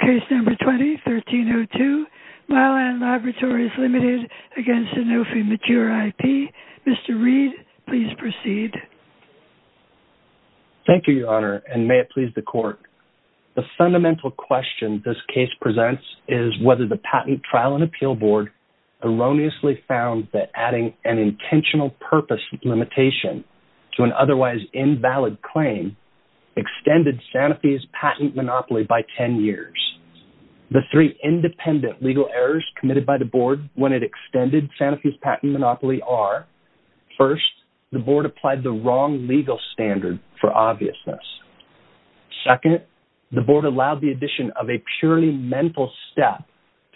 Case number 20-1302, Mylan Laboratories Limited v. Sanofi Mature IP. Mr. Reed, please proceed. Thank you, Your Honor, and may it please the Court. The fundamental question this case presents is whether the Patent Trial and Appeal Board erroneously found that adding an intentional purpose limitation to an otherwise invalid claim extended Sanofi's patent monopoly by 10 years. The three independent legal errors committed by the Board when it extended Sanofi's patent monopoly are, first, the Board applied the wrong legal standard for obviousness. Second, the Board allowed the addition of a purely mental step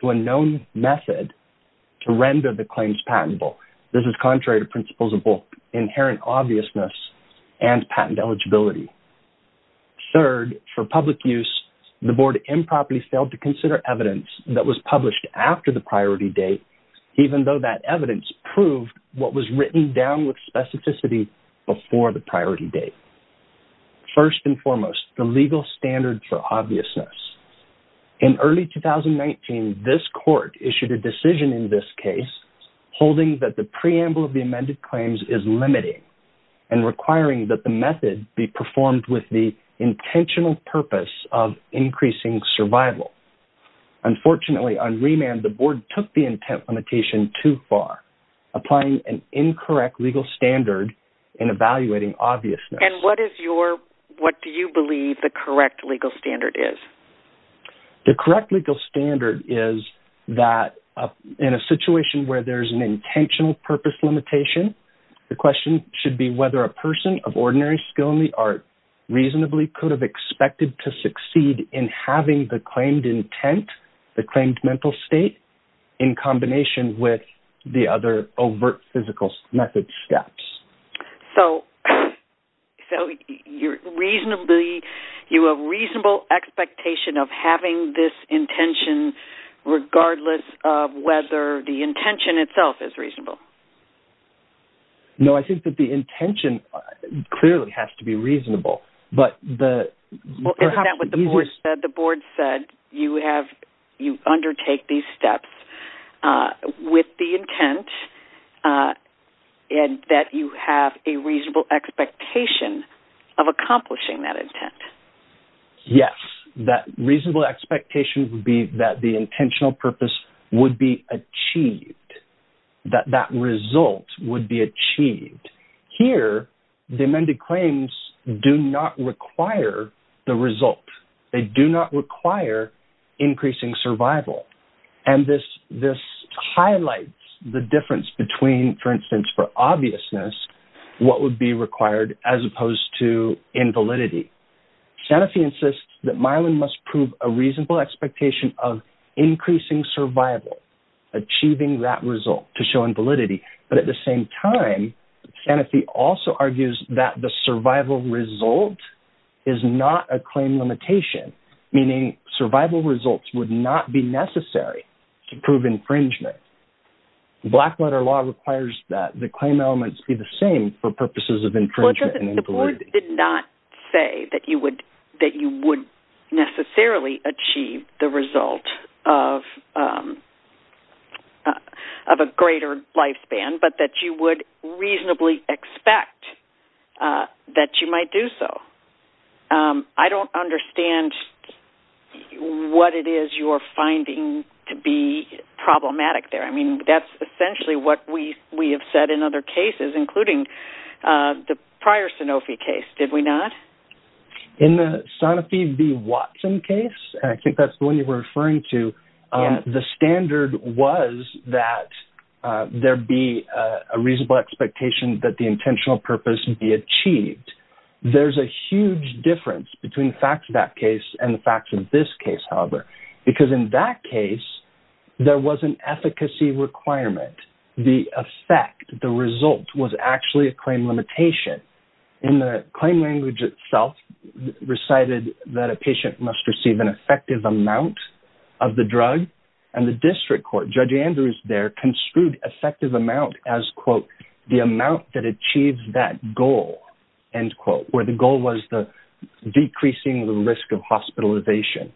to a known method to render the claims patentable. This is contrary to principles of both inherent obviousness and patent eligibility. Third, for public use, the Board improperly failed to consider evidence that was published after the priority date, even though that evidence proved what was written down with specificity before the priority date. First and foremost, the legal standard for obviousness. In early 2019, this Court issued a decision in this case holding that the preamble of the amended claims is performed with the intentional purpose of increasing survival. Unfortunately, on remand, the Board took the intent limitation too far, applying an incorrect legal standard in evaluating obviousness. And what do you believe the correct legal standard is? The correct legal standard is that in a situation where there's an intentional purpose limitation, the question should be whether a person of ordinary skill in the art reasonably could have expected to succeed in having the claimed intent, the claimed mental state, in combination with the other overt physical method steps. So, you have a reasonable expectation of having this intention regardless of whether the intention itself is reasonable? No, I think that the intention clearly has to be reasonable, but the... Well, isn't that what the Board said? The Board said you undertake these steps with the intent and that you have a reasonable expectation of accomplishing that intent. Yes, that reasonable expectation would be that the intentional purpose would be achieved, that that result would be achieved. Here, the amended claims do not require the result. They do not require increasing survival. And this highlights the difference between, for instance, for obviousness, what would be required as opposed to invalidity. Sanofi insists that Mylan must prove a reasonable expectation of increasing survival, achieving that result to show invalidity. But at the same time, Sanofi also argues that the survival result is not a claim limitation, meaning survival results would not be necessary to prove infringement. Blackwater law requires that the claim elements be the same for purposes of infringement and invalidity. The Board did not say that you would necessarily achieve the result of a greater lifespan, but that you would reasonably expect that you might do so. I don't understand what it is you're finding to be problematic there. I mean, that's essentially what we have said in other cases, including the prior Sanofi case, did we not? In the Sanofi v. Watson case, and I think that's the one you were referring to, the standard was that there be a reasonable expectation that the intentional purpose would be achieved. There's a huge difference between the facts of that case and the facts of this case, however, because in that case, there was an efficacy requirement. The effect, the result, was actually a claim limitation. In the claim language itself recited that a patient must receive an effective amount of the drug, and the district court, Judge Andrews there, construed effective amount as, quote, the amount that achieves that goal, end quote, where the goal was decreasing the risk of hospitalization.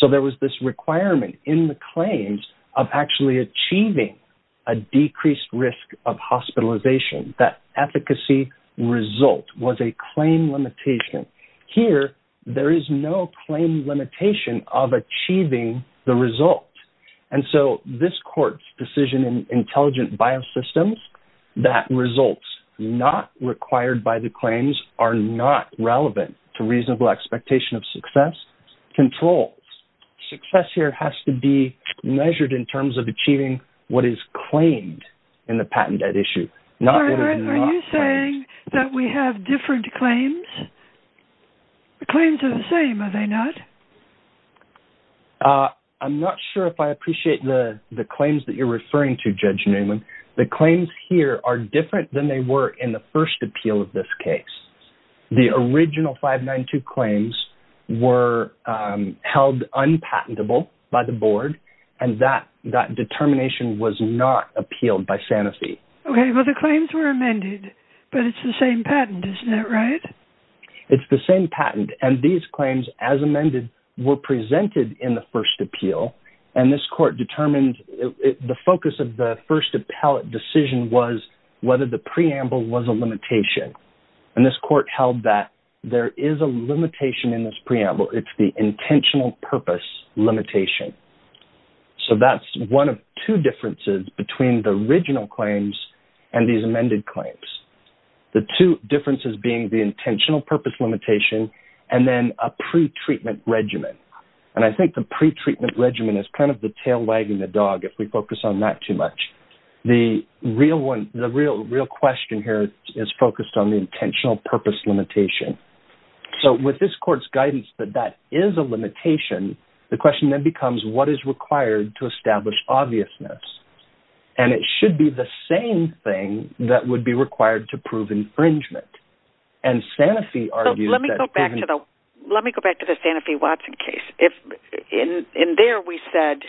So there was this requirement in the claims of actually achieving a decreased risk of hospitalization. That efficacy result was a claim limitation. Here, there is no claim limitation of achieving the result. And so this court's decision in Intelligent Biosystems, that results not required by the relevant to reasonable expectation of success, controls. Success here has to be measured in terms of achieving what is claimed in the patented issue. Are you saying that we have different claims? The claims are the same, are they not? I'm not sure if I appreciate the claims that you're referring to, Judge Newman. The claims here are different than they were in the first appeal of this case. The original 592 claims were held unpatentable by the board, and that determination was not appealed by Sanofi. Okay, well the claims were amended, but it's the same patent, isn't that right? It's the same patent, and these claims, as amended, were presented in the first appeal, and this court determined the focus of the first appellate decision was whether the preamble was a limitation. And this court held that there is a limitation in this preamble, it's the intentional purpose limitation. So that's one of two differences between the original claims and these amended claims. The two differences being the intentional purpose limitation, and then a pretreatment regimen. And I think the pretreatment regimen is kind of the real question here is focused on the intentional purpose limitation. So with this court's guidance that that is a limitation, the question then becomes what is required to establish obviousness? And it should be the same thing that would be required to prove infringement. And Sanofi argued that... Let me go back to the Sanofi-Watson case. In there, we said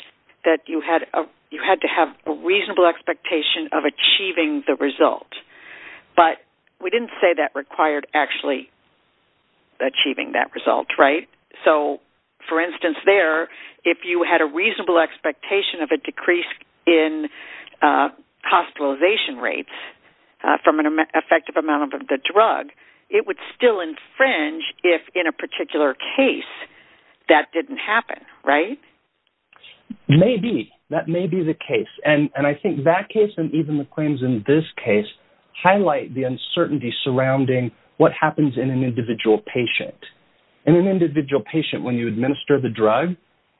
that you had to have a reasonable expectation of achieving the result. But we didn't say that required actually achieving that result, right? So for instance there, if you had a reasonable expectation of a decrease in hospitalization rates from an right? Maybe, that may be the case. And I think that case and even the claims in this case highlight the uncertainty surrounding what happens in an individual patient. In an individual patient, when you administer the drug,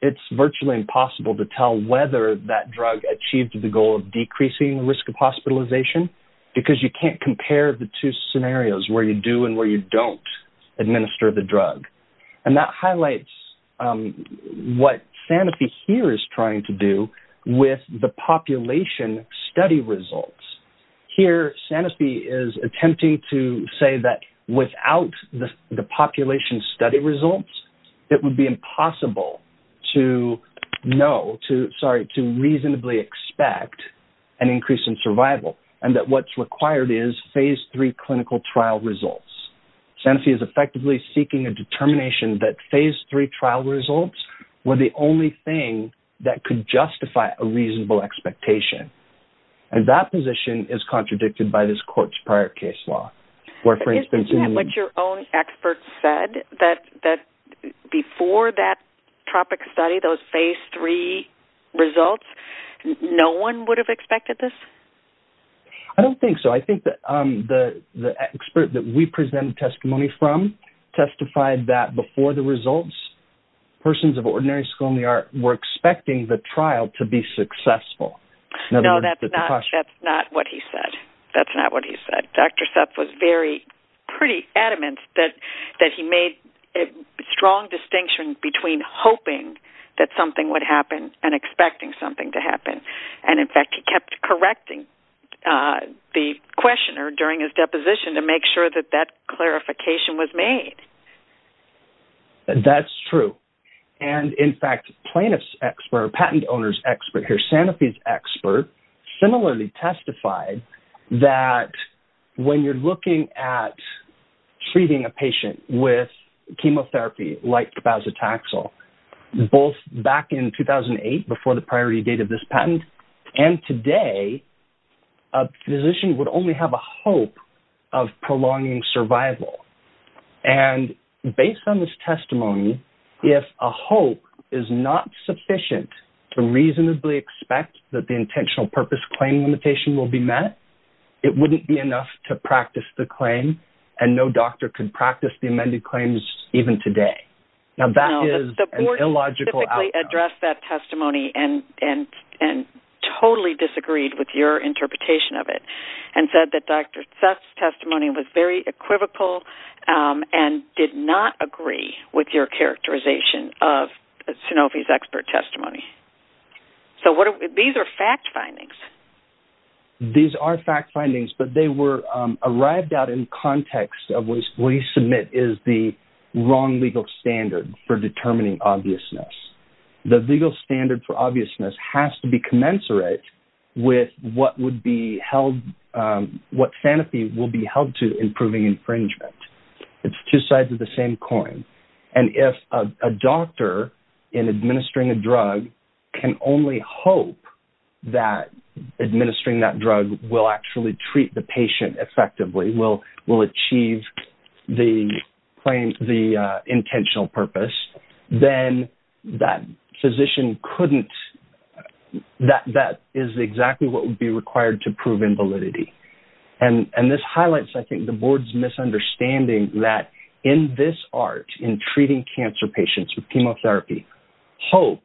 it's virtually impossible to tell whether that drug achieved the goal of decreasing the risk of hospitalization, because you can't compare the two scenarios where you do and where you don't administer the drug. And that highlights what Sanofi here is trying to do with the population study results. Here, Sanofi is attempting to say that without the population study results, it would be impossible to know, sorry, to reasonably expect an increase in survival and that what's required is three clinical trial results. Sanofi is effectively seeking a determination that phase three trial results were the only thing that could justify a reasonable expectation. And that position is contradicted by this court's prior case law. But isn't that what your own experts said? That before that topic study, those phase three results, no one would have expected this? I don't think so. I think that the expert that we present testimony from testified that before the results, persons of ordinary school and the art were expecting the trial to be successful. No, that's not what he said. That's not what he said. Dr. Sepp was very pretty adamant that he made a strong distinction between hoping that something would happen and expecting something to happen. The questioner during his deposition to make sure that that clarification was made. That's true. And in fact, plaintiff's expert, patent owner's expert here, Sanofi's expert, similarly testified that when you're looking at treating a patient with chemotherapy like and today, a physician would only have a hope of prolonging survival. And based on this testimony, if a hope is not sufficient to reasonably expect that the intentional purpose claim limitation will be met, it wouldn't be enough to practice the claim. And no doctor could practice the amended claims even today. Now that is an illogical outcome. Addressed that testimony and totally disagreed with your interpretation of it and said that Dr. Sepp's testimony was very equivocal and did not agree with your characterization of Sanofi's expert testimony. So these are fact findings. These are fact findings, but they were arrived out in context of what we submit is the wrong legal standard for determining obviousness. The legal standard for obviousness has to be commensurate with what Sanofi will be held to improving infringement. It's two sides of the same coin. And if a doctor in administering a drug can only hope that administering that drug will actually the patient effectively, will achieve the intentional purpose, then that physician couldn't that is exactly what would be required to prove invalidity. And this highlights, I think, the board's misunderstanding that in this art in treating cancer patients with chemotherapy, hope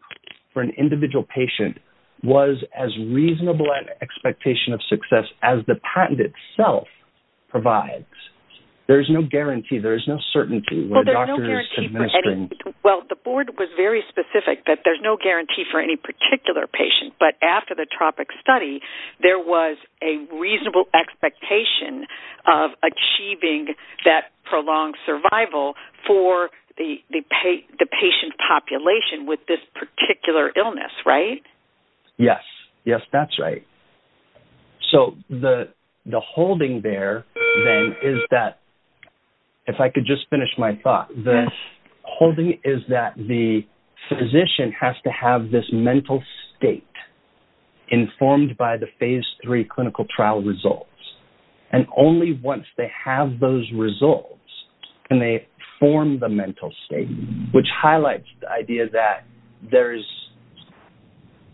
for an individual patient was as reasonable an expectation of success as the patent itself provides. There's no guarantee. There's no certainty. Well, the board was very specific that there's no guarantee for any particular patient, but after the tropic study, there was a reasonable expectation of achieving that prolonged survival for the patient population with this particular illness, right? Yes. Yes, that's right. So, the holding there then is that, if I could just finish my thought, the holding is that the physician has to have this mental state informed by the phase three clinical trial results. And only once they have those results can they form the mental state, which highlights the idea that there's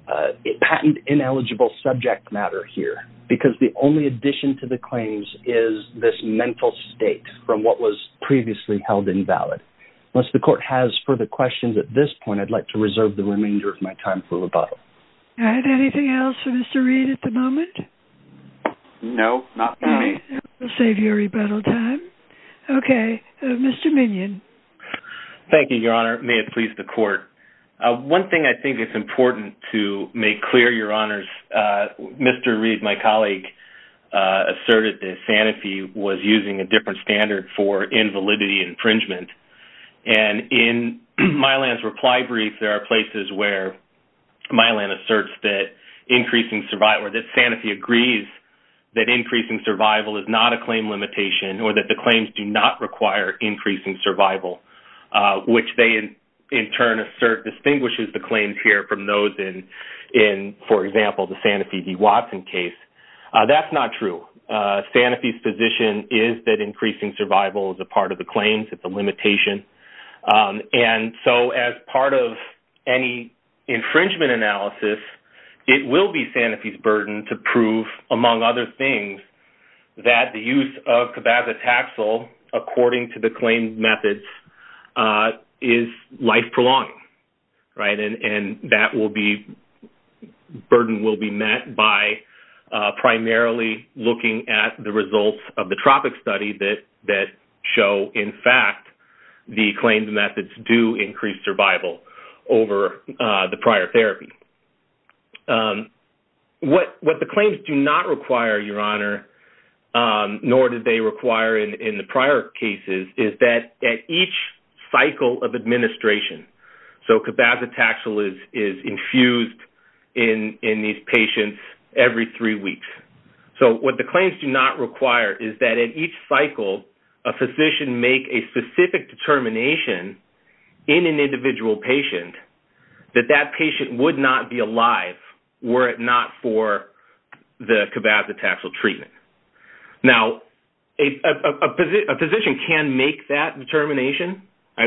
a patent ineligible subject matter here, because the only addition to the claims is this mental state from what was previously held invalid. Unless the court has further questions at this point, I'd like to reserve the remainder of my time for rebuttal. All right. Anything else for Mr. Reed at the moment? No, not for me. We'll save your rebuttal time. Okay. Mr. Minion. Thank you, Your Honor. May it please the court. One thing I think is important to make clear, Your Honors, Mr. Reed, my colleague, asserted that Sanofi was using a different standard for invalidity infringement. And in Mylan's reply brief, there are places where Mylan asserts that Sanofi agrees that increasing survival is not a claim limitation or that the claims do not require increasing survival, which they in turn assert distinguishes the claims here from those in, for example, the Sanofi v. Watson case. That's not true. Sanofi's position is that increasing survival is a part of the claims. It's a limitation. And so as part of any infringement analysis, it will be Sanofi's burden to prove, among other things, that the use of cabazitaxel according to the claimed methods is life-prolonging. And that burden will be met by primarily looking at the results of the Tropic study that show, in fact, the claimed methods do increase survival over the prior therapy. What the claims do not require, Your Honor, nor did they require in the prior cases, is that at each cycle of administration, so cabazitaxel is infused in these patients every three weeks. So what the claims do not require is that at each cycle, a physician make a specific determination in an individual patient that that patient would not be alive were it not for the cabazitaxel treatment. Now, a physician can make that determination.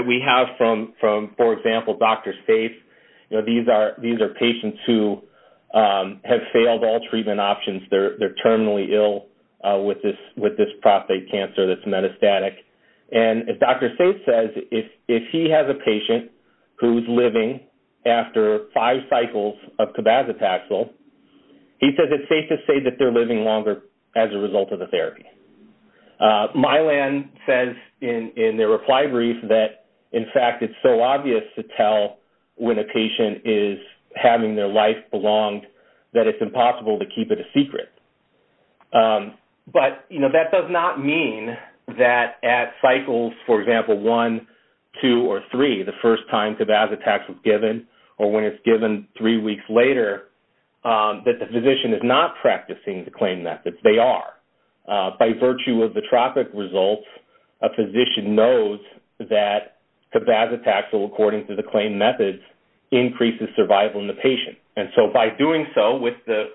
We have, for example, Dr. Saif. These are patients who have failed all treatment options. They're terminally ill with this prostate cancer that's metastatic. And as Dr. Saif says, if he has a patient who's living after five cycles of cabazitaxel, he says it's safe to say that they're living longer as a result of the therapy. Mylan says in their reply brief that, in fact, it's so obvious to tell when a patient is having their life belonged that it's impossible to keep it a secret. But that does not mean that at cycles, for example, one, two, or three, the first time cabazitaxel was given or when it's given three weeks later, that the physician is not practicing the claim methods. They are. By virtue of the tropic results, a physician knows that cabazitaxel, according to the claim methods, increases survival in the patient. And so by doing so with the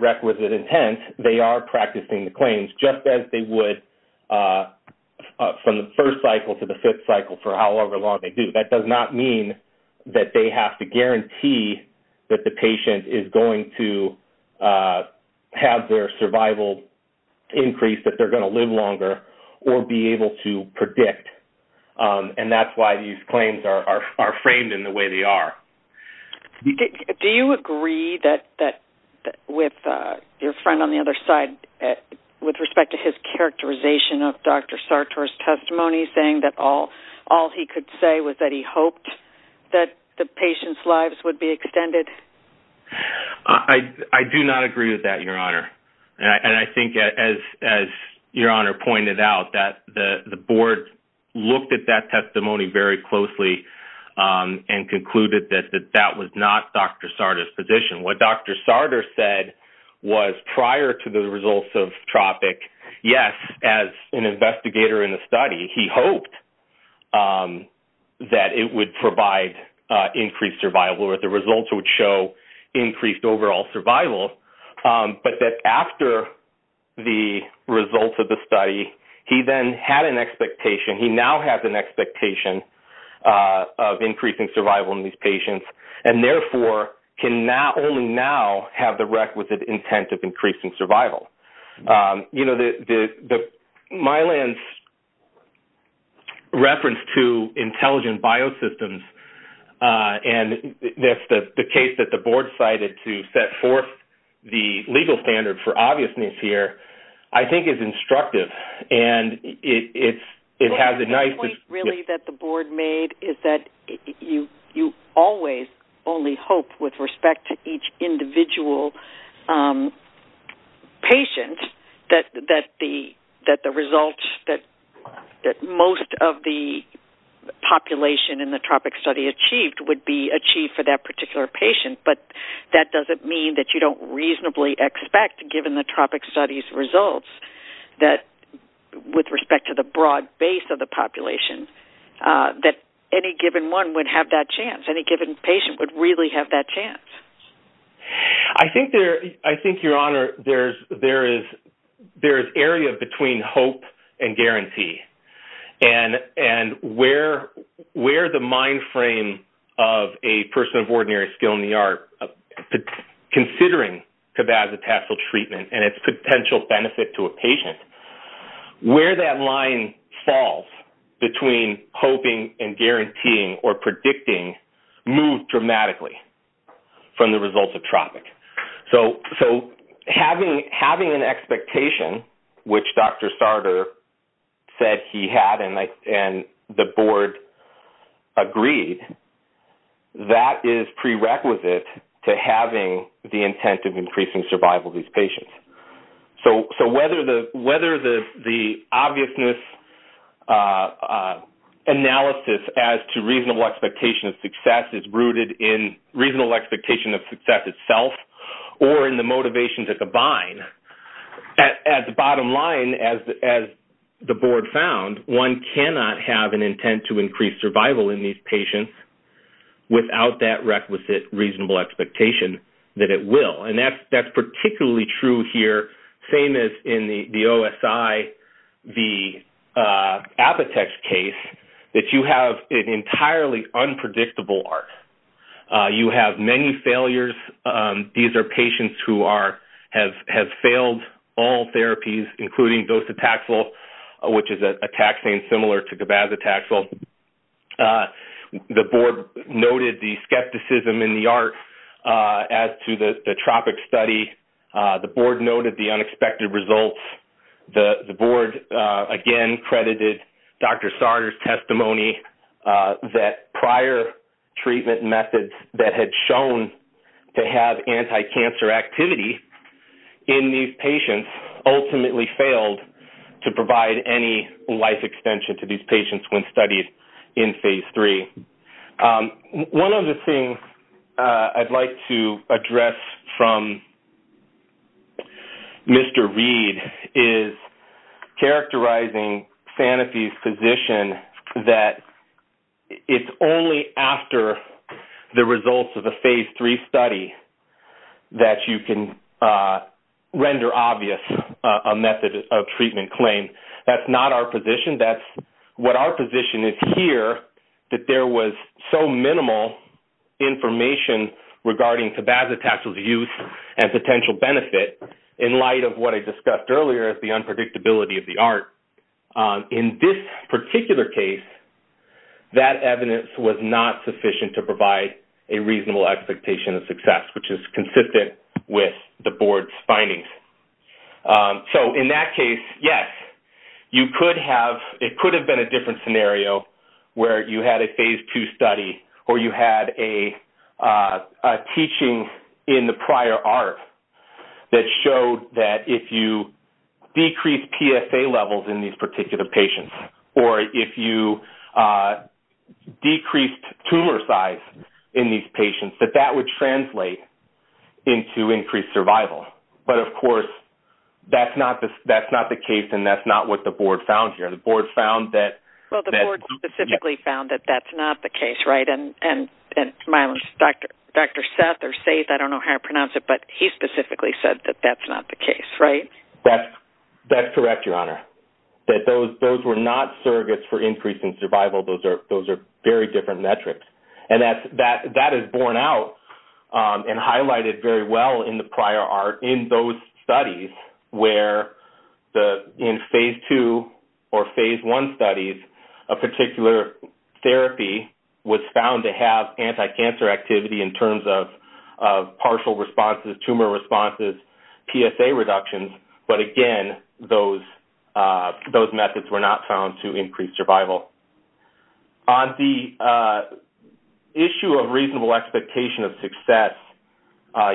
requisite intent, they are practicing the claims just as they would from the first cycle to the fifth cycle for however long they do. That does not mean that they have to guarantee that the patient is going to have their survival increase, that they're going to live longer, or be able to predict. And that's why these claims are framed in the way they are. Do you agree that with your friend on the other side, with respect to his characterization of Dr. Sartor's testimony, saying that all he could say was that he hoped that the patient's lives would be extended? I do not agree with that, Your Honor. And I think as Your Honor pointed out, that the board looked at that testimony very closely and concluded that that was not Dr. Sartor's position. What Dr. Sartor said was prior to the results of tropic, yes, as an investigator in the study, he hoped that it would provide increased survival or the results would show increased overall survival, but that after the results of the study, he then had an expectation, he now has an expectation of increasing survival in these patients and therefore can not only now have the requisite intent of increasing survival. You know, Mylan's reference to intelligent biosystems, and that's the case that the board cited to set forth the legal standard for obviousness here, I think is instructive. And it has a nice... The point really that the board made is that you always only hope with respect to each individual patient that the results that most of the population in the tropic study achieved would be achieved for that particular patient, but that doesn't mean that you don't reasonably expect, given the tropic study's with respect to the broad base of the population, that any given one would have that chance, any given patient would really have that chance. I think there... I think, Your Honor, there is area between hope and guarantee, and where the mind frame of a person of ordinary skill in the where that line falls between hoping and guaranteeing or predicting move dramatically from the results of tropic. So having an expectation, which Dr. Sartor said he had, and the board agreed, that is prerequisite to having the intent of increasing survival of So whether the obviousness analysis as to reasonable expectation of success is rooted in reasonable expectation of success itself or in the motivation to combine, at the bottom line, as the board found, one cannot have an intent to increase survival in these patients without that requisite reasonable expectation that it will. And that's particularly true here same as in the OSI, the Apotex case, that you have an entirely unpredictable ART. You have many failures. These are patients who have failed all therapies, including Dositaxel, which is a taxane similar to Gabazitaxel. The board noted the skepticism in the ART as to the tropic study. The board noted the unexpected results. The board, again, credited Dr. Sartor's testimony that prior treatment methods that had shown to have anti-cancer activity in these patients ultimately failed to provide any life extension to these patients when studied in Phase 3. One of the things I'd like to address from Mr. Reed is characterizing Sanofi's position that it's only after the results of a Phase 3 study that you can render obvious a method of treatment claim. That's not our position. That's what our position here that there was so minimal information regarding Tabazitaxel's use and potential benefit in light of what I discussed earlier as the unpredictability of the ART. In this particular case, that evidence was not sufficient to provide a reasonable expectation of success, which is consistent with the board's findings. So, in that case, yes, you could have-it could have been a different scenario where you had a Phase 2 study or you had a teaching in the prior ART that showed that if you decreased PSA levels in these particular patients or if you decreased tumor size in these patients, that that would translate into increased survival. But, of course, that's not the case and that's not what the board found here. The board found that- Well, the board specifically found that that's not the case, right? And Dr. Seth or Seth, I don't know how to pronounce it, but he specifically said that that's not the case, right? That's correct, Your Honor. Those were not surrogates for increasing survival. Those are very different metrics. And that is borne out and highlighted very well in the prior ART in those studies where the-in Phase 2 or Phase 1 studies, a particular therapy was found to have anti-cancer activity in terms of partial responses, tumor responses, PSA reductions. But, again, those methods were not found to increase survival. On the issue of reasonable expectation of success,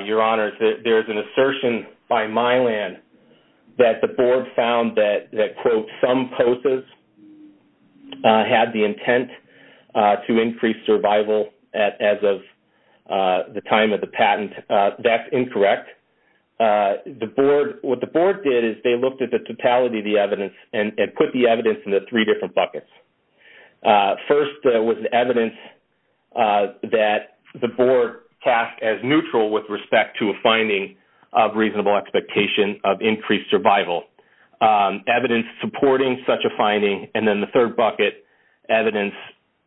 Your Honor, there's an assertion by Mylan that the board found that, quote, some POSAs had the intent to increase survival as of the time of the patent. That's incorrect. What the board did is they looked at the totality of the evidence and put the evidence into three different buckets. First was the evidence that the board cast as neutral with respect to a finding of reasonable expectation of increased survival, evidence supporting such a finding, and then the third bucket, evidence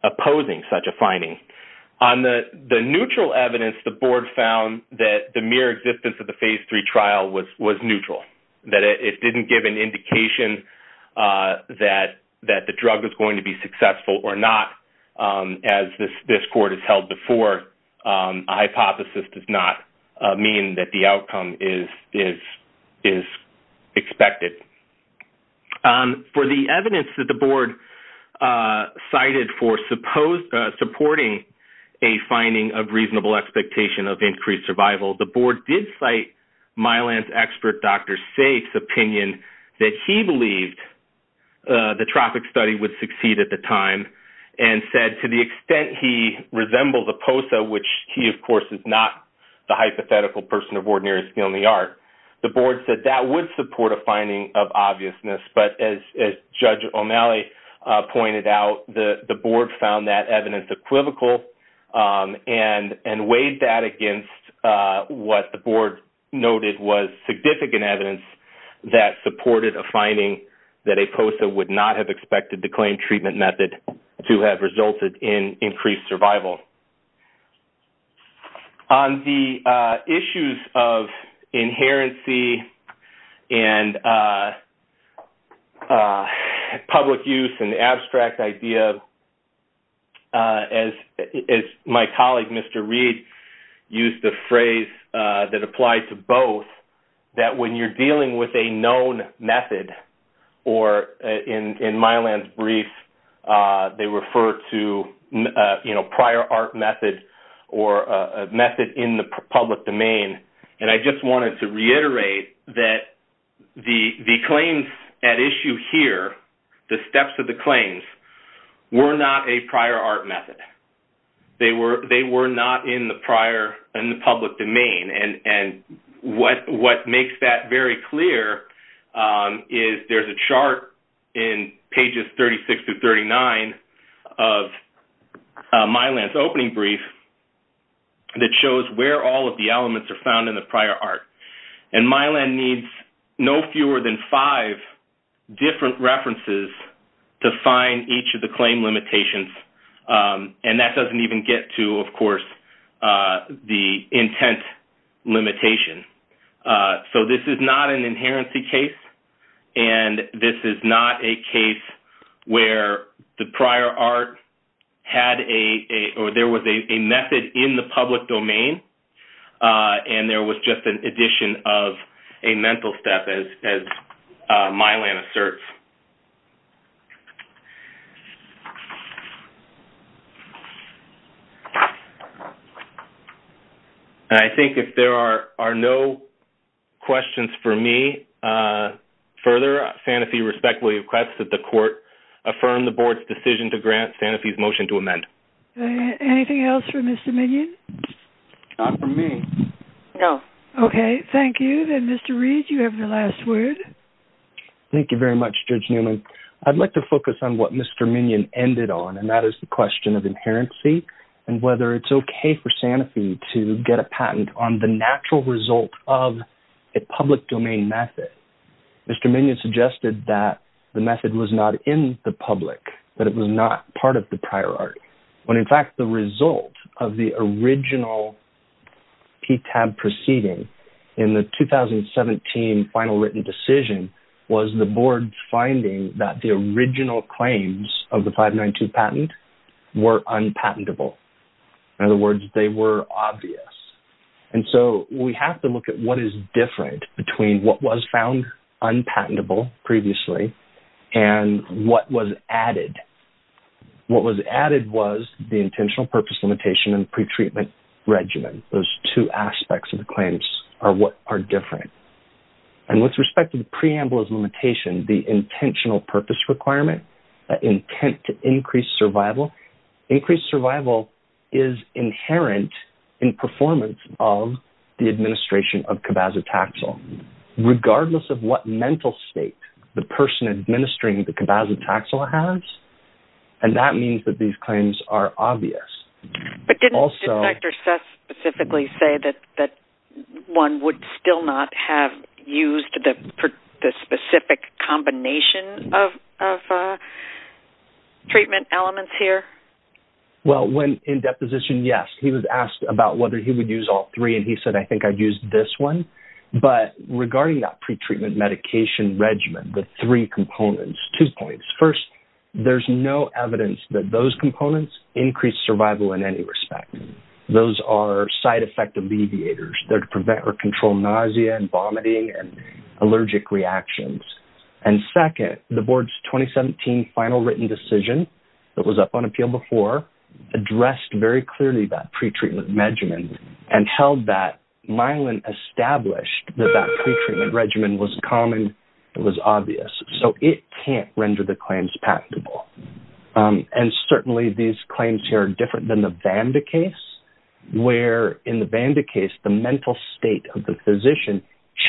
opposing such a finding. On the neutral evidence, the board found that the mere existence of the Phase 3 trial was neutral, that it didn't give an indication that the drug was going to be successful or not. As this Court has held before, a hypothesis does not mean that the outcome is expected. For the evidence that the board cited for supporting a finding of reasonable expectation of increased survival, the board did cite Mylan's expert, Dr. Saif's, opinion that he believed the Tropic study would succeed at the time and said, to the extent he resembles a POSA, which he, of course, is not the hypothetical person of ordinary skill in the art, the board said that would support a finding of obviousness. But as Judge O'Malley pointed out, the board found that evidence equivocal and weighed that against what the board noted was significant evidence that supported a finding that a POSA would not have expected the claimed treatment method to have resulted in increased survival. On the issues of inherency and public use and the abstract idea, as my colleague, Mr. Reed, used the phrase that applied to both, that when you're dealing with a prior art method or a method in the public domain, and I just wanted to reiterate that the claims at issue here, the steps of the claims, were not a prior art method. They were not in the public domain. And what makes that very clear is there's a chart in pages 36 to 39 of Mylan's opening brief that shows where all of the elements are found in the prior art. And Mylan needs no fewer than five different references to find each of the claim limitations. And that doesn't even get to, of course, the intent limitation. So this is not an inherency case. And this is not a case where the prior art had a, or there was a method in the public domain. And there was just an addition of a mental step as Mylan asserts. And I think if there are no questions for me, further, Sanofi respectfully requests that the court affirm the board's decision to grant Sanofi's motion to amend. Anything else for Mr. Minion? Not for me. No. Okay. Thank you. Then Mr. Reed, you have the last word. Thank you very much, Judge Newman. I'd like to focus on what Mr. Minion ended on, and that is the question of inherency and whether it's okay for Sanofi to get a patent on the natural result of a public domain method. Mr. Minion suggested that the method was not in the public, that it was not part of the prior art, when in fact the result of the original PTAB proceeding in the 2017 final written decision was the board's finding that the original claims of the 592 patent were unpatentable. In other words, they were obvious. And so we have to look at what is different between what was found unpatentable previously and what was added. What was added was the intentional purpose limitation and pretreatment regimen. Those two aspects of the claims are what are different. And with respect to the preamble's limitation, the intentional purpose requirement, that intent to increase survival, increased survival is inherent in performance of the administration of cabazitaxel, regardless of what mental state the person administering the cabazitaxel has. And that means that these claims are obvious. But didn't Dr. Seth specifically say that one would still not have used the specific combination of treatment elements here? Well, in deposition, yes. He was asked about whether he would use all three, and he said, I think I'd use this one. But regarding that pretreatment medication regimen, the three components, two points. First, there's no evidence that those components increase survival in any respect. Those are side effect alleviators. They're to prevent or control nausea and vomiting and allergic reactions. And second, the board's 2017 final written decision that was up on appeal before addressed very clearly that pretreatment regimen and held that Myelin established that that pretreatment regimen was common, it was obvious. So it can't render the claims patentable. And certainly these claims here are different than the Vanda case, where in the Vanda case, the mental state of the physician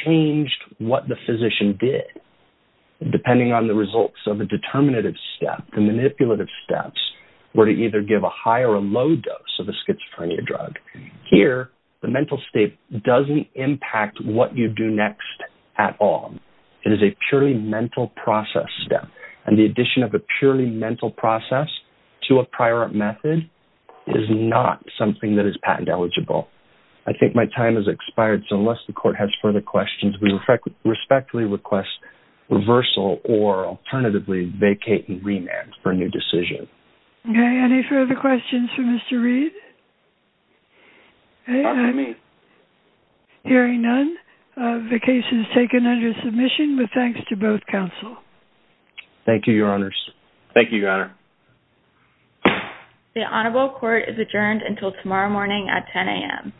changed what the physician did, depending on the results of a determinative step. The manipulative steps were to either give a high or a low dose of a schizophrenia drug. Here, the mental state doesn't impact what you do next at all. It is a purely mental process step. And the addition of a purely mental process to a prior method is not something that is patent eligible. I think my time has expired, so unless the court has further questions, we respectfully request reversal or alternatively vacate and remand for a new decision. Okay. Any further questions for Mr. Reed? I'm hearing none. The case is taken under submission with thanks to both counsel. Thank you, your honors. Thank you, your honor. The honorable court is adjourned until tomorrow morning at 10 a.m.